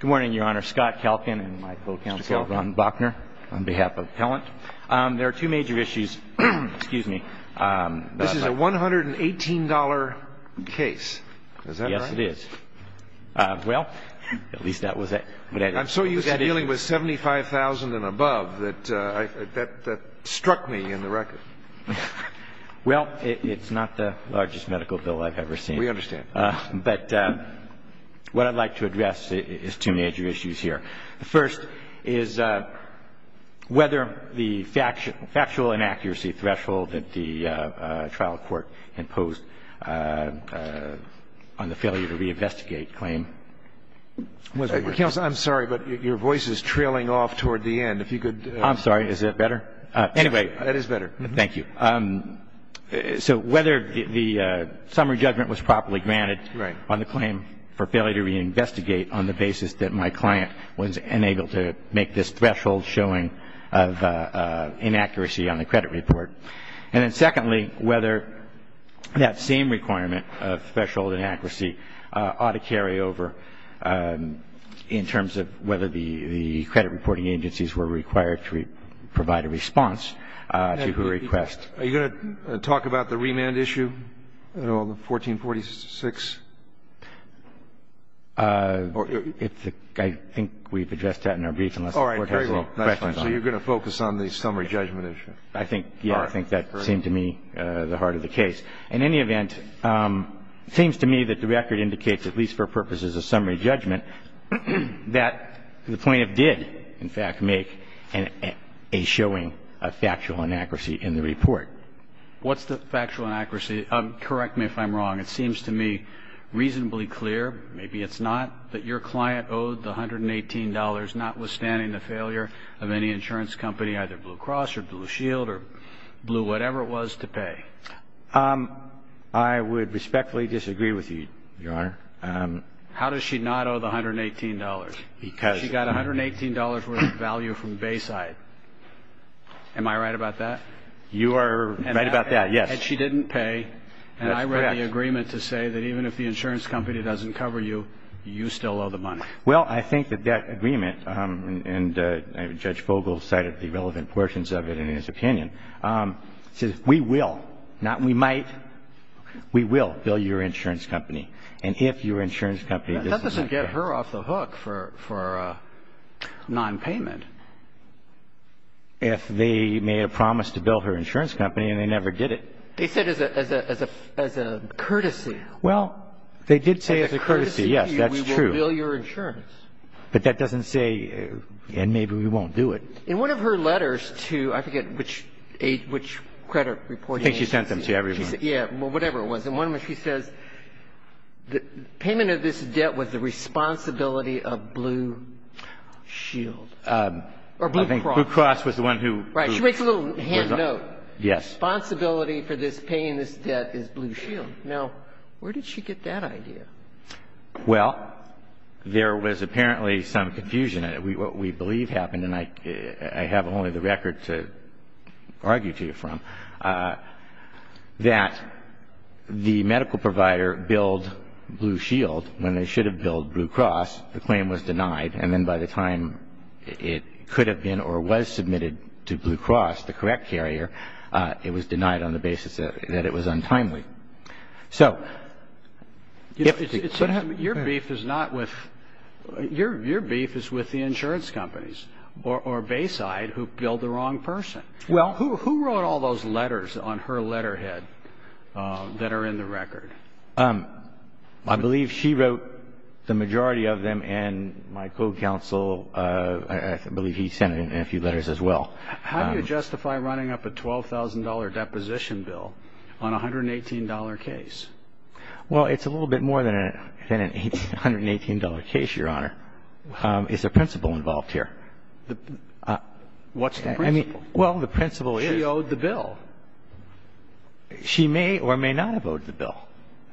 Good morning, Your Honor. Scott Kalkin and my co-counsel, Ron Bochner, on behalf of Pellant. There are two major issues. Excuse me. This is a $118 case. Is that right? Yes, it is. Well, at least that was it. I'm so used to dealing with $75,000 and above that that struck me in the record. Well, it's not the largest medical bill I've ever seen. We understand. But what I'd like to address is two major issues here. The first is whether the factual inaccuracy threshold that the trial court imposed on the failure to reinvestigate claim. Counsel, I'm sorry, but your voice is trailing off toward the end. I'm sorry. Is that better? Anyway, that is better. Thank you. So whether the summary judgment was properly granted on the claim for failure to reinvestigate on the basis that my client was unable to make this threshold showing of inaccuracy on the credit report. And then secondly, whether that same requirement of threshold inaccuracy ought to carry over in terms of whether the credit reporting agencies were required to provide a response to her request. Are you going to talk about the remand issue, 1446? I think we've addressed that in our brief unless the Court has any questions on it. All right. Very well. So you're going to focus on the summary judgment issue. I think, yes. All right. I think that seemed to me the heart of the case. In any event, it seems to me that the record indicates, at least for purposes of summary judgment, that the plaintiff did, in fact, make a showing of factual inaccuracy in the report. What's the factual inaccuracy? Correct me if I'm wrong. It seems to me reasonably clear, maybe it's not, that your client owed the $118 notwithstanding the failure of any insurance company, either Blue Cross or Blue Shield or Blue whatever it was, to pay. I would respectfully disagree with you, Your Honor. How does she not owe the $118? She got $118 worth of value from Bayside. Am I right about that? You are right about that, yes. And she didn't pay. That's correct. And I read the agreement to say that even if the insurance company doesn't cover you, you still owe the money. Well, I think that that agreement, and Judge Vogel cited the relevant portions of it in his opinion, says we will, not we might, we will bill your insurance company. And if your insurance company doesn't cover you. That doesn't get her off the hook for nonpayment. If they made a promise to bill her insurance company and they never did it. They said as a courtesy. Well, they did say as a courtesy, yes, that's true. We will bill your insurance. But that doesn't say, and maybe we won't do it. In one of her letters to, I forget which credit reporting agency. I think she sent them to everyone. Yeah, whatever it was. And one of them, she says the payment of this debt was the responsibility of Blue Shield. Or Blue Cross. I think Blue Cross was the one who. Right. She makes a little hand note. Yes. Responsibility for this, paying this debt is Blue Shield. Now, where did she get that idea? Well, there was apparently some confusion. What we believe happened, and I have only the record to argue to you from, that the medical provider billed Blue Shield when they should have billed Blue Cross. The claim was denied. And then by the time it could have been or was submitted to Blue Cross, the correct carrier, it was denied on the basis that it was untimely. So. Your beef is not with. Your beef is with the insurance companies or Bayside who billed the wrong person. Well. Who wrote all those letters on her letterhead that are in the record? I believe she wrote the majority of them, and my co-counsel, I believe he sent in a few letters as well. How do you justify running up a $12,000 deposition bill on a $118 case? Well, it's a little bit more than an $118 case, Your Honor. Is a principal involved here? What's the principal? Well, the principal is. She owed the bill. She may or may not have owed the bill.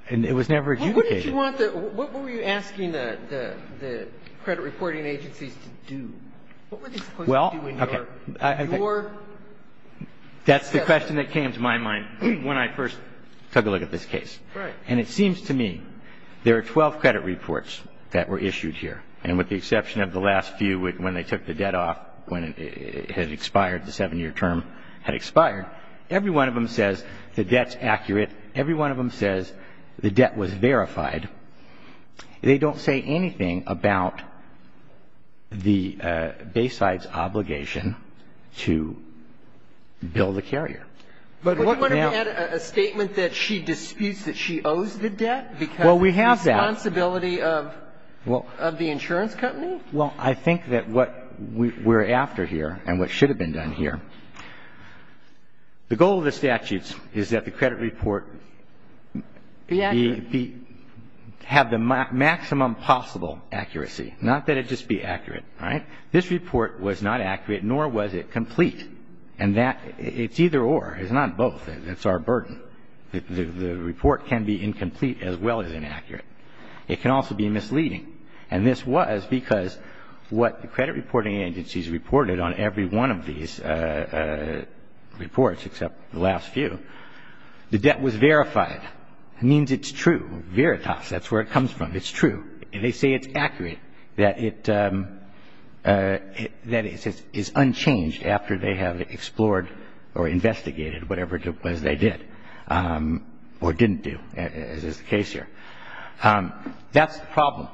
And it was never adjudicated. What were you asking the credit reporting agencies to do? What were they supposed to do in your case? That's the question that came to my mind when I first took a look at this case. Right. And it seems to me there are 12 credit reports that were issued here. And with the exception of the last few when they took the debt off, when it had expired, the 7-year term had expired, every one of them says the debt's accurate. Every one of them says the debt was verified. They don't say anything about the Bayside's obligation to bill the carrier. But what if we had a statement that she disputes that she owes the debt because responsibility of the insurance company? Well, I think that what we're after here and what should have been done here, the goal of the statutes is that the credit report be accurate. Have the maximum possible accuracy. Not that it just be accurate. All right? This report was not accurate, nor was it complete. And that it's either or. It's not both. It's our burden. The report can be incomplete as well as inaccurate. It can also be misleading. And this was because what the credit reporting agencies reported on every one of these reports except the last few, the debt was verified. It means it's true. Veritas. That's where it comes from. It's true. And they say it's accurate, that it is unchanged after they have explored or investigated whatever it was they did or didn't do, as is the case here. That's the problem.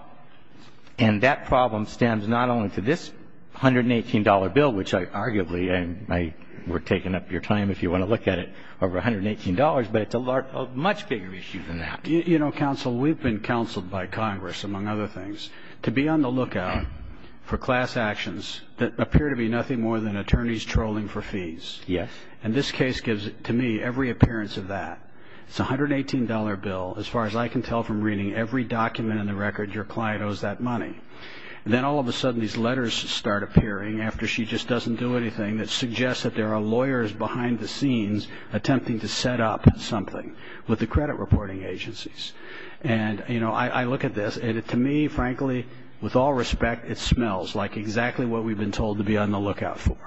And that problem stands not only to this $118 bill, which arguably, and we're taking up your time if you want to look at it, over $118, but it's a much bigger issue than that. You know, counsel, we've been counseled by Congress, among other things, to be on the lookout for class actions that appear to be nothing more than attorneys trolling for fees. Yes. And this case gives, to me, every appearance of that. It's a $118 bill, as far as I can tell from reading every document in the record, your client owes that money. And then all of a sudden these letters start appearing after she just doesn't do anything that suggests that there are lawyers behind the scenes attempting to set up something with the credit reporting agencies. And, you know, I look at this, and to me, frankly, with all respect, it smells like exactly what we've been told to be on the lookout for.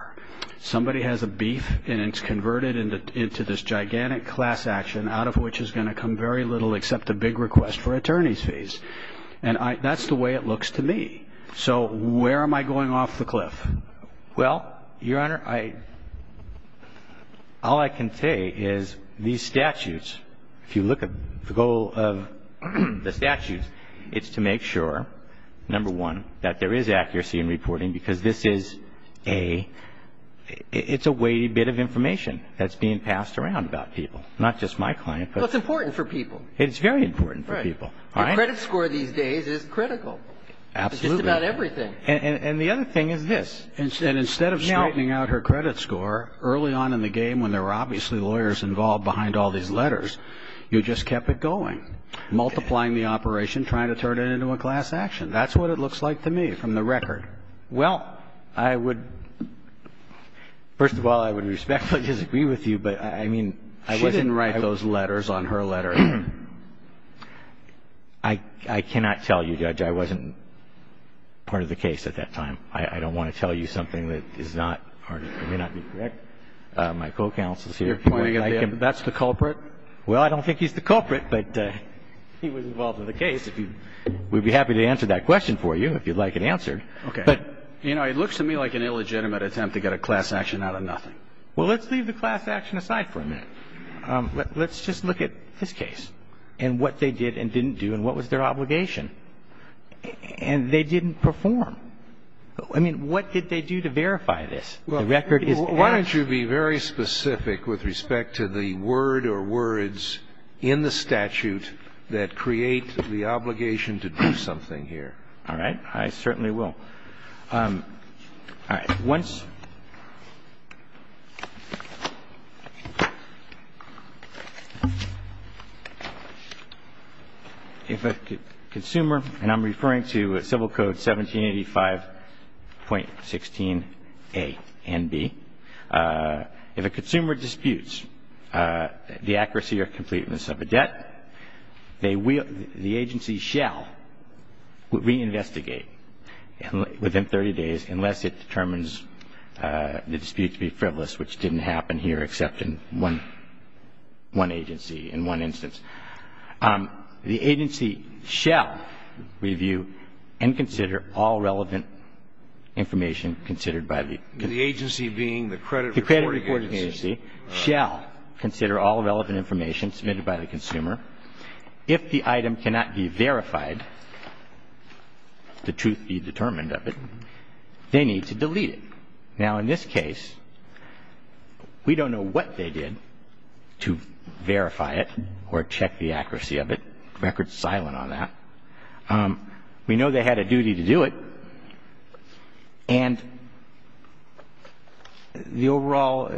Somebody has a beef, and it's converted into this gigantic class action, out of which is going to come very little except a big request for attorneys' fees. And that's the way it looks to me. So where am I going off the cliff? Well, Your Honor, all I can say is these statutes, if you look at the goal of the statutes, it's to make sure, number one, that there is accuracy in reporting, because this is a weighty bit of information that's being passed around about people, not just my client. Well, it's important for people. It's very important for people. Your credit score these days is critical. Absolutely. It's just about everything. And the other thing is this. Instead of straightening out her credit score early on in the game, when there were obviously lawyers involved behind all these letters, you just kept it going, multiplying the operation, trying to turn it into a class action. That's what it looks like to me from the record. Well, I would, first of all, I would respectfully disagree with you, but I mean, I wasn't. She didn't write those letters on her letter. I cannot tell you, Judge. I wasn't part of the case at that time. I don't want to tell you something that is not, or may not be correct. My co-counsel is here. You're pointing at him. That's the culprit? Well, I don't think he's the culprit, but he was involved in the case. We'd be happy to answer that question for you if you'd like it answered. Okay. You know, it looks to me like an illegitimate attempt to get a class action out of nothing. Well, let's leave the class action aside for a minute. Let's just look at this case and what they did and didn't do and what was their obligation. And they didn't perform. I mean, what did they do to verify this? The record is accurate. Well, why don't you be very specific with respect to the word or words in the statute that create the obligation to do something here? All right. I certainly will. All right. Once if a consumer, and I'm referring to Civil Code 1785.16a and b, if a consumer disputes the accuracy or completeness of a debt, the agency shall reinvestigate within 30 days unless it determines the dispute to be frivolous, which didn't happen here except in one agency, in one instance. The agency shall review and consider all relevant information considered by the consumer. The agency being the credit reporting agency. The agency shall consider all relevant information submitted by the consumer. If the item cannot be verified, the truth be determined of it, they need to delete it. Now, in this case, we don't know what they did to verify it or check the accuracy of it. The record is silent on that. We know they had a duty to do it. And the overall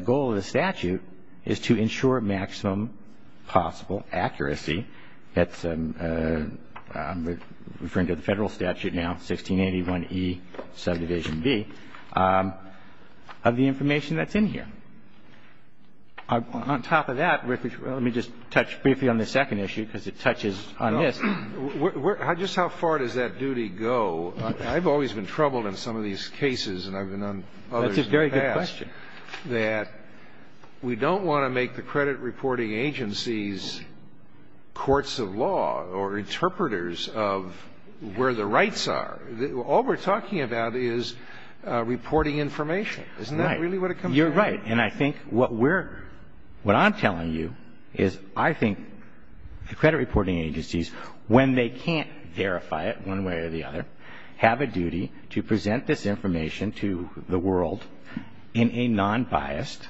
goal of the statute is to ensure maximum possible accuracy. That's referring to the Federal statute now, 1681e subdivision b, of the information that's in here. On top of that, let me just touch briefly on the second issue because it touches on this. Just how far does that duty go? I've always been troubled in some of these cases and I've been on others in the past. That's a very good question. That we don't want to make the credit reporting agencies courts of law or interpreters of where the rights are. All we're talking about is reporting information. Isn't that really what it comes down to? You're right. And I think what we're – what I'm telling you is I think the credit reporting agencies, when they can't verify it one way or the other, have a duty to present this information to the world in a nonbiased,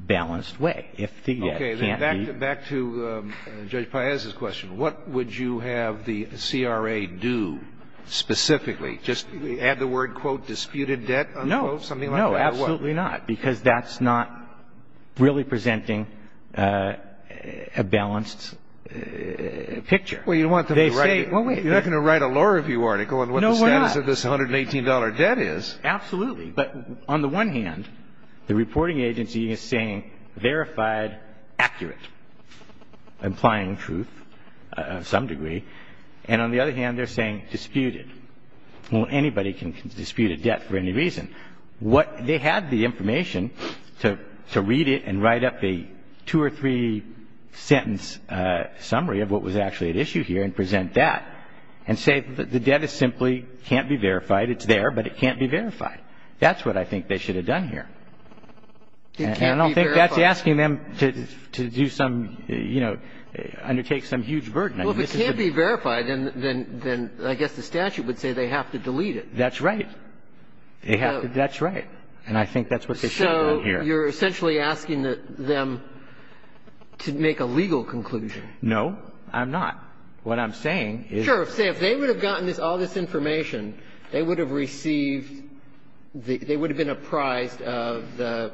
balanced way. Okay. Back to Judge Paez's question. What would you have the CRA do specifically? Just add the word, quote, disputed debt, unquote, something like that or what? Absolutely not because that's not really presenting a balanced picture. Well, you want them to write – you're not going to write a law review article on what the status of this $118 debt is. No, we're not. Absolutely. But on the one hand, the reporting agency is saying verified, accurate, implying truth to some degree. And on the other hand, they're saying disputed. Well, anybody can dispute a debt for any reason. They have the information to read it and write up a two or three sentence summary of what was actually at issue here and present that and say the debt is simply can't be verified. It's there, but it can't be verified. That's what I think they should have done here. It can't be verified. And I don't think that's asking them to do some, you know, undertake some huge burden. Well, if it can't be verified, then I guess the statute would say they have to delete it. That's right. And I think that's what they should have done here. So you're essentially asking them to make a legal conclusion. No, I'm not. What I'm saying is – Sure. Say if they would have gotten all this information, they would have received – they would have been apprised of the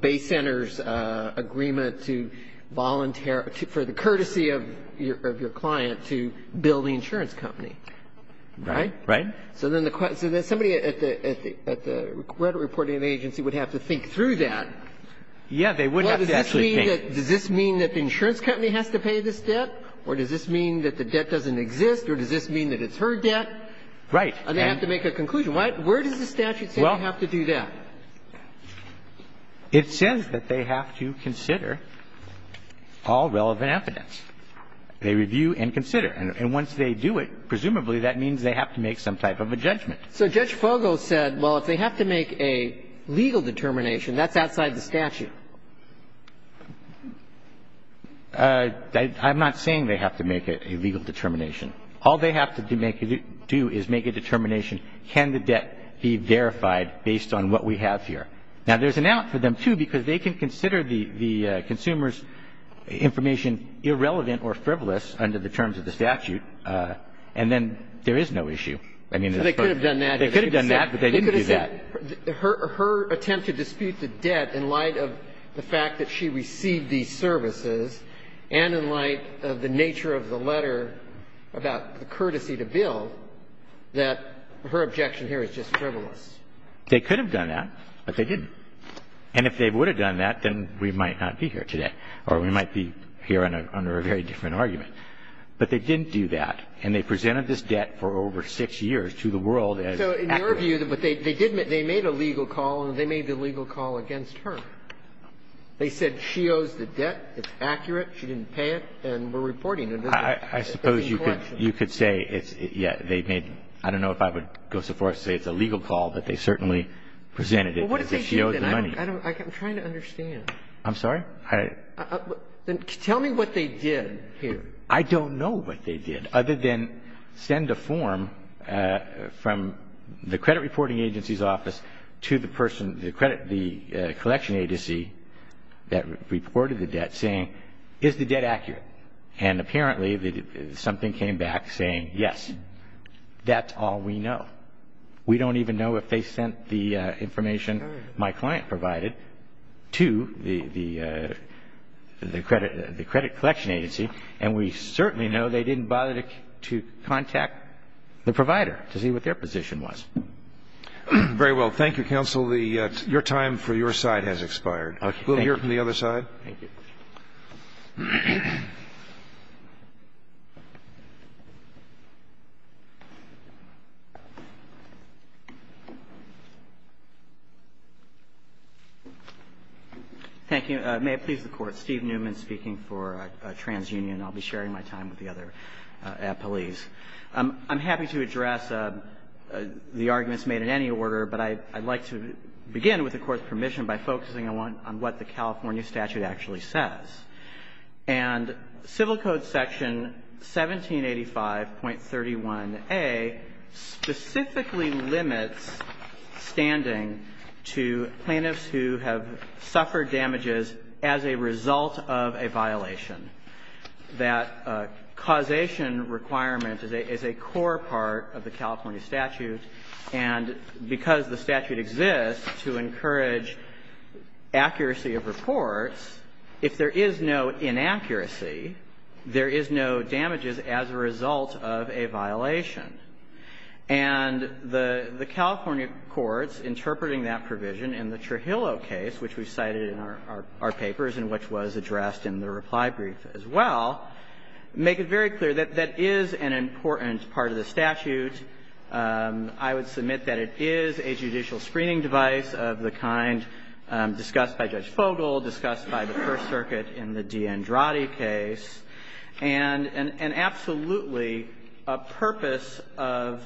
base center's agreement to volunteer – for the courtesy of your client to build the insurance company. Right? Right. So then somebody at the credit reporting agency would have to think through that. Yeah, they would have to actually think. Well, does this mean that the insurance company has to pay this debt? Or does this mean that the debt doesn't exist? Or does this mean that it's her debt? Right. And they have to make a conclusion. Where does the statute say you have to do that? Well, it says that they have to consider all relevant evidence. They review and consider. And once they do it, presumably that means they have to make some type of a judgment. So Judge Fogel said, well, if they have to make a legal determination, that's outside the statute. I'm not saying they have to make a legal determination. All they have to do is make a determination, can the debt be verified based on what we have here. Now, there's an out for them, too, because they can consider the consumer's information irrelevant or frivolous under the terms of the statute, and then there is no issue. So they could have done that. They could have done that, but they didn't do that. Her attempt to dispute the debt in light of the fact that she received these services and in light of the nature of the letter about the courtesy to bill, that her objection here is just frivolous. They could have done that, but they didn't. And if they would have done that, then we might not be here today. Or we might be here under a very different argument. But they didn't do that. And they presented this debt for over six years to the world as accurate. So in your view, they made a legal call, and they made the legal call against her. They said she owes the debt, it's accurate, she didn't pay it, and we're reporting it. I suppose you could say it's, yeah, they made, I don't know if I would go so far as to say it's a legal call, but they certainly presented it because she owes the money. I'm trying to understand. I'm sorry? Tell me what they did here. I don't know what they did, other than send a form from the credit reporting agency's office to the person, the credit, the collection agency that reported the debt saying, is the debt accurate? And apparently something came back saying, yes. That's all we know. We don't even know if they sent the information my client provided to the credit collection agency, and we certainly know they didn't bother to contact the provider to see what their position was. Very well. Thank you, counsel. Your time for your side has expired. We'll hear from the other side. Thank you. Thank you. May it please the Court. Steve Newman speaking for TransUnion. I'll be sharing my time with the other appellees. I'm happy to address the arguments made in any order, but I'd like to begin with the Court's permission by focusing on what the California statute actually says. And Civil Code Section 1785.31a specifically limits standing to plaintiffs who have suffered damages as a result of a violation. That causation requirement is a core part of the California statute, and because the statute exists to encourage accuracy of reports, if there is no inaccuracy, there is no damages as a result of a violation. And the California courts interpreting that provision in the Trujillo case, which we cited in our papers and which was addressed in the reply brief as well, make it very clear that that is an important part of the statute. I would submit that it is a judicial screening device of the kind discussed by Judge Fogel, discussed by the First Circuit in the DeAndrade case. And absolutely, a purpose of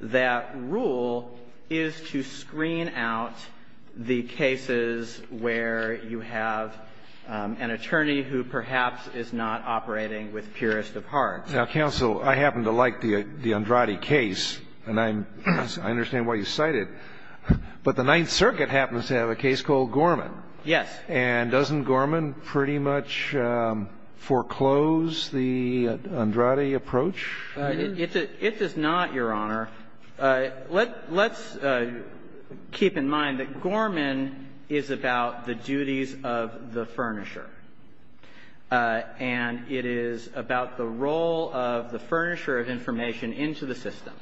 that rule is to screen out the cases where you have an attorney who perhaps is not operating with purest of hearts. Now, counsel, I happen to like the DeAndrade case, and I understand why you cite it. But the Ninth Circuit happens to have a case called Gorman. Yes. And doesn't Gorman pretty much foreclose the DeAndrade approach? It does not, Your Honor. Let's keep in mind that Gorman is about the duties of the furnisher. And it is about the role of the furnisher of information into the system.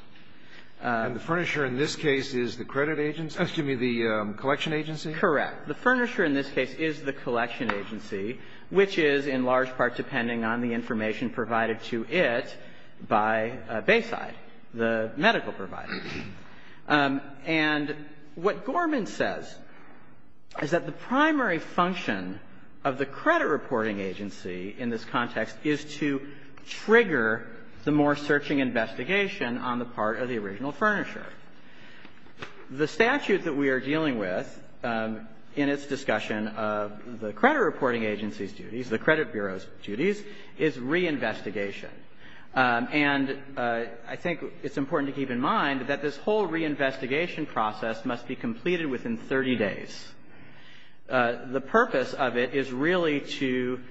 And the furnisher in this case is the credit agency? Excuse me, the collection agency? Correct. The furnisher in this case is the collection agency, which is in large part depending on the information provided to it by Bayside, the medical provider. And what Gorman says is that the primary function of the credit reporting agency in this context is to trigger the more searching investigation on the part of the original furnisher. The statute that we are dealing with in its discussion of the credit reporting agency's duties, the credit bureau's duties, is reinvestigation. And I think it's important to keep in mind that this whole reinvestigation process must be completed within 30 days. The purpose of it is really to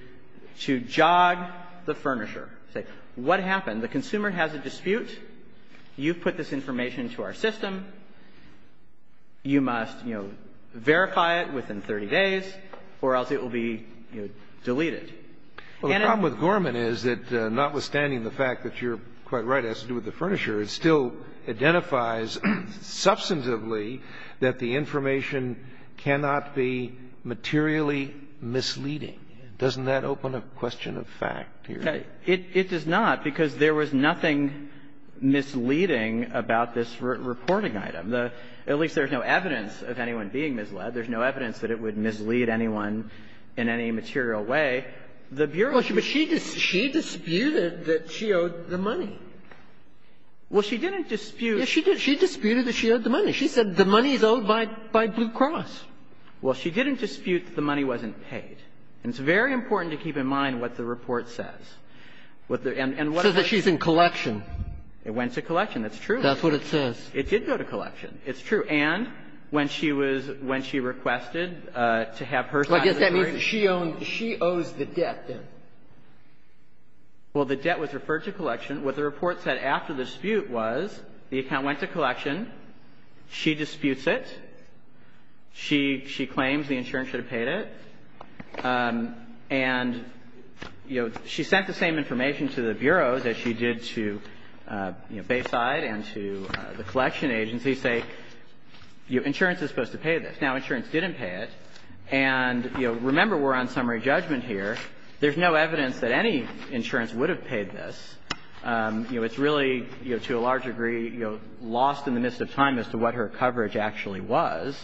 jog the furnisher. Say, what happened? The consumer has a dispute. You've put this information into our system. You must, you know, verify it within 30 days or else it will be, you know, deleted. Well, the problem with Gorman is that notwithstanding the fact that you're quite right as to what the furnisher is, it still identifies substantively that the information cannot be materially misleading. Doesn't that open a question of fact here? It does not, because there was nothing misleading about this reporting item. At least there's no evidence of anyone being misled. There's no evidence that it would mislead anyone in any material way. The bureau should be. But she disputed that she owed the money. Well, she didn't dispute. Yes, she did. She disputed that she owed the money. She said the money is owed by Blue Cross. Well, she didn't dispute that the money wasn't paid. And it's very important to keep in mind what the report says. And what it says. It says that she's in collection. It went to collection. That's true. That's what it says. It did go to collection. It's true. And when she was – when she requested to have her signed the report. Well, I guess that means she owned – she owes the debt, then. Well, the debt was referred to collection. What the report said after the dispute was the account went to collection. She disputes it. She claims the insurance should have paid it. And, you know, she sent the same information to the bureaus as she did to, you know, insurance is supposed to pay this. Now, insurance didn't pay it. And, you know, remember we're on summary judgment here. There's no evidence that any insurance would have paid this. You know, it's really, you know, to a large degree, you know, lost in the midst of time as to what her coverage actually was.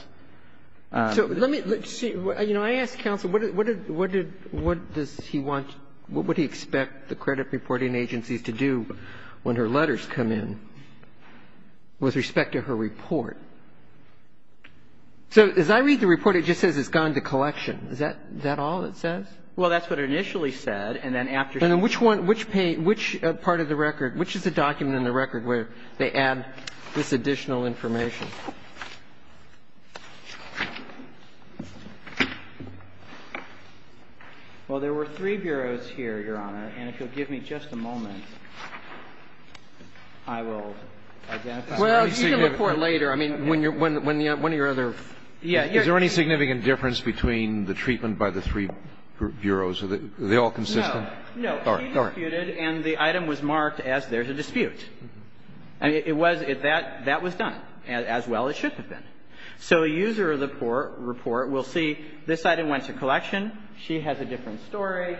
So let me see. You know, I ask counsel, what did – what did – what does he want – what would he expect the credit reporting agencies to do when her letters come in with respect to her report? So as I read the report, it just says it's gone to collection. Is that all it says? Well, that's what it initially said. And then after – And then which one – which part of the record – which is the document in the record where they add this additional information? Well, there were three bureaus here, Your Honor. And if you'll give me just a moment, I will identify them. Well, you can report later. I mean, when your other – Yeah. Is there any significant difference between the treatment by the three bureaus? Are they all consistent? No. She disputed, and the item was marked as there's a dispute. I mean, it was – that was done as well as it should have been. So a user of the report will see this item went to collection. She has a different story.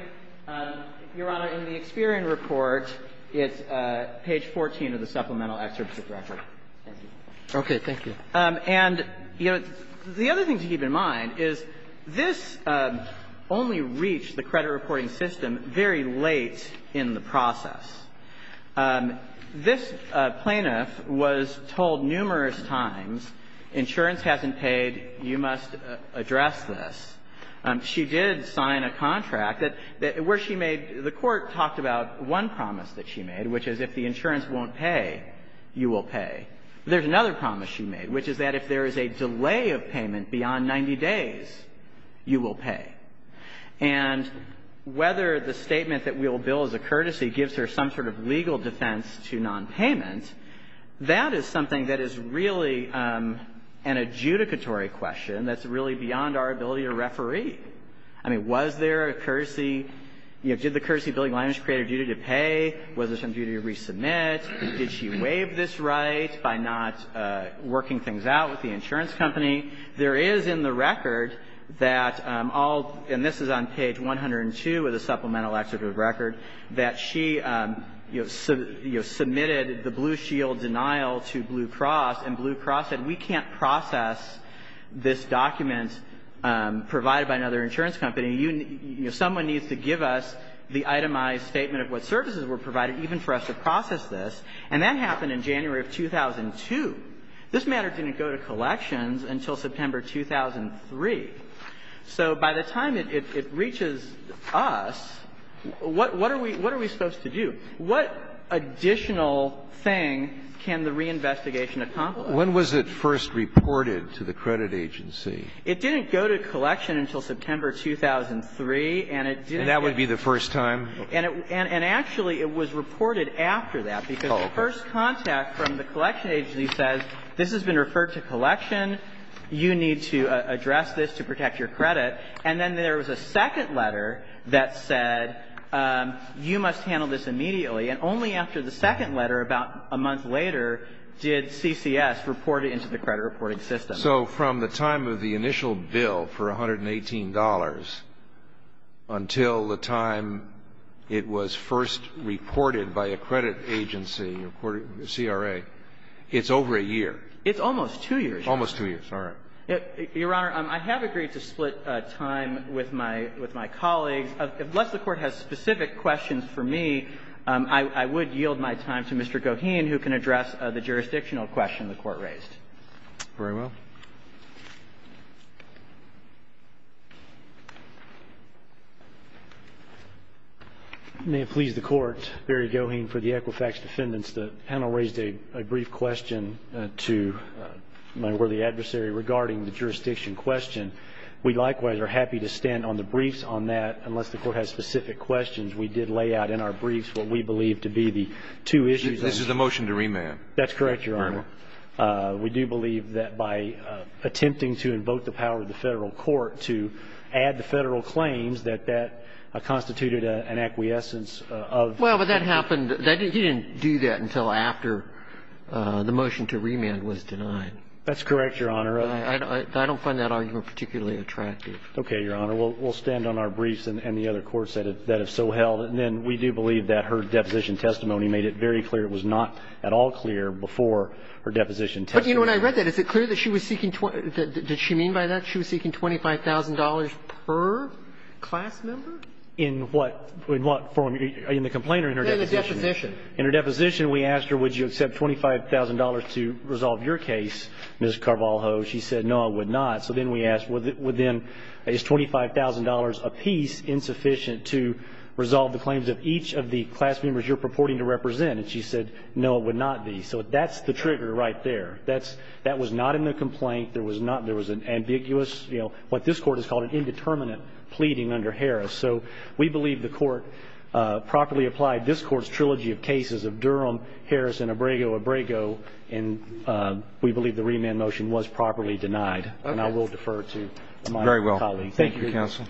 Your Honor, in the Experian report, it's page 14 of the supplemental excerpt of the record. Thank you. Okay. Thank you. And, you know, the other thing to keep in mind is this only reached the credit reporting system very late in the process. This plaintiff was told numerous times, insurance hasn't paid, you must address this. She did sign a contract that – where she made – the Court talked about one promise that she made, which is if the insurance won't pay, you will pay. There's another promise she made, which is that if there is a delay of payment beyond 90 days, you will pay. And whether the statement that we will bill as a courtesy gives her some sort of legal defense to nonpayment, that is something that is really an adjudicatory question that's really beyond our ability to referee. I mean, was there a courtesy? You know, did the courtesy billing language create a duty to pay? Was there some duty to resubmit? Did she waive this right by not working things out with the insurance company? There is in the record that all – and this is on page 102 of the supplemental excerpt of the record – that she, you know, submitted the Blue Shield denial to Blue Cross, and Blue Cross said we can't process this document provided by another insurance company. You – you know, someone needs to give us the itemized statement of what services were provided even for us to process this. And that happened in January of 2002. This matter didn't go to collections until September 2003. So by the time it reaches us, what are we – what are we supposed to do? What additional thing can the reinvestigation accomplish? When was it first reported to the credit agency? It didn't go to collection until September 2003, and it didn't get to the agency. And that would be the first time? And actually, it was reported after that, because the first contact from the collection agency says this has been referred to collection. You need to address this to protect your credit. And then there was a second letter that said you must handle this immediately. And only after the second letter, about a month later, did CCS report it into the credit reporting system. So from the time of the initial bill for $118 until the time it was first reported by a credit agency, CRA, it's over a year. It's almost two years. Almost two years. All right. Your Honor, I have agreed to split time with my – with my colleagues. Unless the Court has specific questions for me, I would yield my time to Mr. Goheen, who can address the jurisdictional question the Court raised. Very well. May it please the Court, Barry Goheen for the Equifax Defendants. The panel raised a brief question to my worthy adversary regarding the jurisdiction question. We likewise are happy to stand on the briefs on that, unless the Court has specific questions. We did lay out in our briefs what we believe to be the two issues. This is a motion to remand. That's correct, Your Honor. Very well. We do believe that by attempting to invoke the power of the Federal Court to add the Federal claims, that that constituted an acquiescence of the – Well, but that happened – he didn't do that until after the motion to remand was denied. That's correct, Your Honor. I don't find that argument particularly attractive. Okay, Your Honor. We'll stand on our briefs and the other courts that have so held. And then we do believe that her deposition testimony made it very clear it was not at all clear before her deposition testimony. But, you know, when I read that, is it clear that she was seeking – did she mean by that she was seeking $25,000 per class member? In what form? In the complaint or in her deposition? In her deposition. In her deposition, we asked her, would you accept $25,000 to resolve your case, Ms. Carvalho. She said, no, I would not. So then we asked, would then – is $25,000 apiece insufficient to resolve the claims of each of the class members you're purporting to represent? And she said, no, it would not be. So that's the trigger right there. That's – that was not in the complaint. There was not – there was an ambiguous, you know, what this Court has called an indeterminate pleading under Harris. So we believe the Court properly applied this Court's trilogy of cases of Durham, Harris, and Abrego, Abrego, and we believe the remand motion was properly denied. Okay. And I will defer to my colleague. Very well. Thank you, counsel.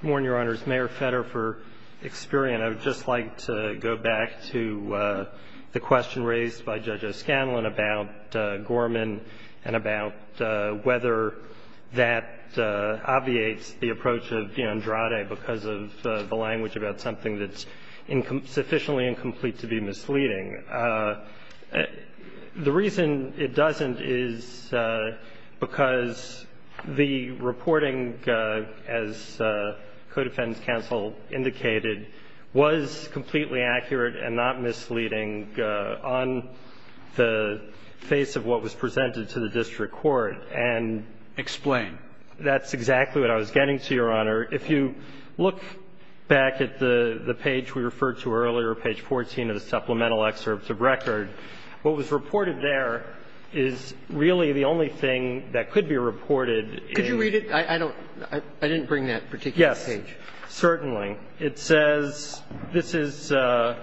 Good morning, Your Honors. Mayor Fetter for Experian. I would just like to go back to the question raised by Judge O'Scanlan about Gorman and about whether that obviates the approach of D'Andrade because of the language about something that's sufficiently incomplete to be misleading. The reason it doesn't is because the reporting, as co-defense counsel indicated, was completely accurate and not misleading on the face of what was presented to the district court and – Explain. That's exactly what I was getting to, Your Honor. If you look back at the page we referred to earlier, page 14 of the supplemental excerpts of record, what was reported there is really the only thing that could be reported. Could you read it? I don't – I didn't bring that particular page. Yes, certainly. It says this is on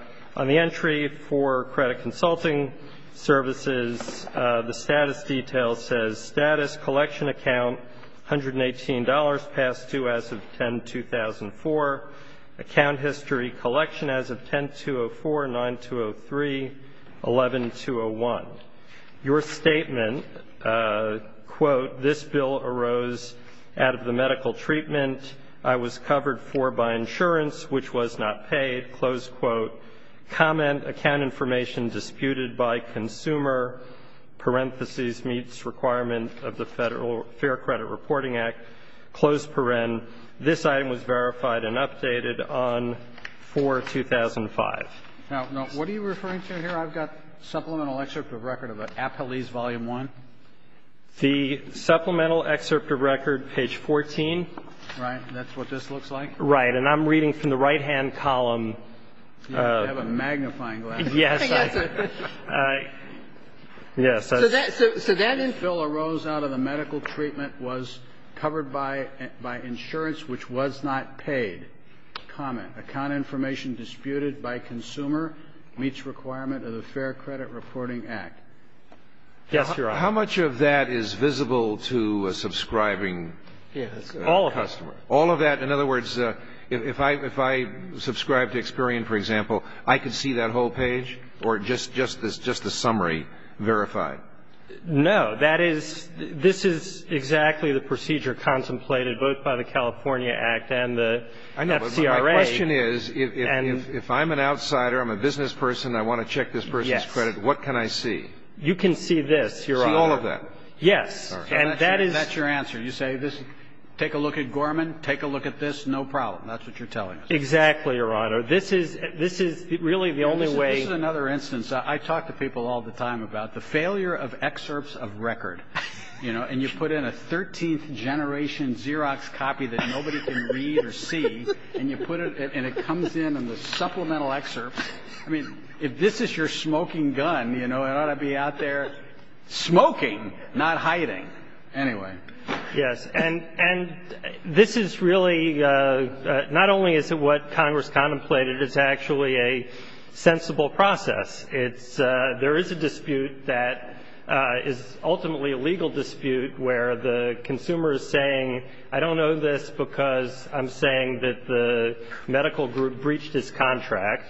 the entry for credit consulting services. The status detail says, Status, collection account, $118, passed due as of 10-2004. Account history, collection as of 10-204, 9-203, 11-201. Your statement, quote, This bill arose out of the medical treatment I was covered for by insurance, which was not paid. Close quote. Comment, account information disputed by consumer, parentheses, meets requirement of the Federal Fair Credit Reporting Act. Close paren. This item was verified and updated on 4-2005. Now, what are you referring to here? I've got supplemental excerpt of record of an appellee's volume 1. The supplemental excerpt of record, page 14. Right. That's what this looks like. Right. And I'm reading from the right-hand column. You have a magnifying glass. Yes. Yes. So that bill arose out of the medical treatment was covered by insurance, which was not paid. Comment, account information disputed by consumer meets requirement of the Fair Credit Reporting Act. Yes, Your Honor. How much of that is visible to a subscribing customer? All of it. All of that. In other words, if I subscribe to Experian, for example, I could see that whole page or just the summary verified? No. That is this is exactly the procedure contemplated both by the California Act and the FCRA. I know, but my question is, if I'm an outsider, I'm a business person, I want to check this person's credit, what can I see? You can see this, Your Honor. See all of that? Yes. And that is. That's your answer. You say this. Take a look at Gorman. Take a look at this. No problem. That's what you're telling us. Exactly, Your Honor. This is this is really the only way. Another instance. I talk to people all the time about the failure of excerpts of record, you know, and you put in a 13th generation Xerox copy that nobody can read or see. And you put it and it comes in and the supplemental excerpts. I mean, if this is your smoking gun, you know, it ought to be out there smoking, not hiding. Anyway. Yes. And this is really not only is it what Congress contemplated, it's actually a sensible process. It's there is a dispute that is ultimately a legal dispute where the consumer is saying, I don't know this because I'm saying that the medical group breached his contract.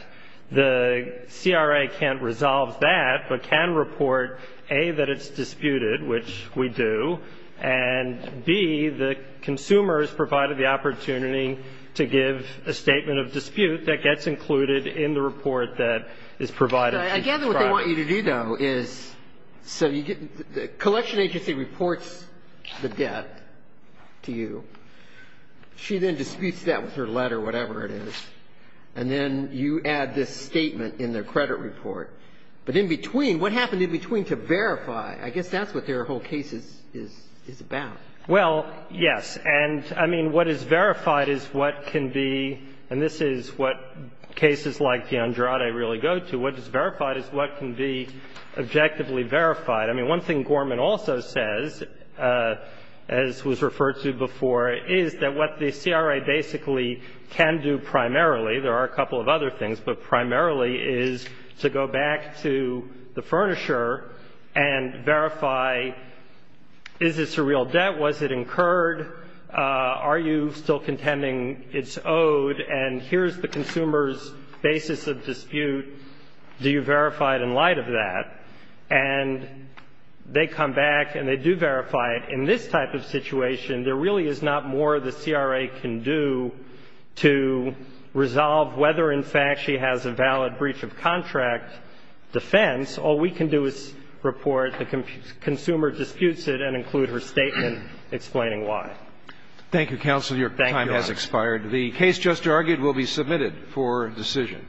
The CRA can't resolve that, but can report, A, that it's disputed, which we do, and B, the consumers provided the opportunity to give a statement of dispute that gets included in the report that is provided. Again, what they want you to do, though, is so you get the collection agency reports the debt to you. She then disputes that with her letter, whatever it is. And then you add this statement in their credit report. But in between, what happened in between to verify? I guess that's what their whole case is about. Well, yes. And, I mean, what is verified is what can be, and this is what cases like the Andrade really go to, what is verified is what can be objectively verified. I mean, one thing Gorman also says, as was referred to before, is that what the CRA basically can do primarily, there are a couple of other things, but primarily is to go back to the furnisher and verify, is this a real debt? Was it incurred? Are you still contending it's owed? And here's the consumer's basis of dispute. Do you verify it in light of that? And they come back and they do verify it. In this type of situation, there really is not more the CRA can do to resolve whether, in fact, she has a valid breach of contract defense. All we can do is report the consumer disputes it and include her statement explaining why. Thank you, counsel. Your time has expired. The case just argued will be submitted for decision.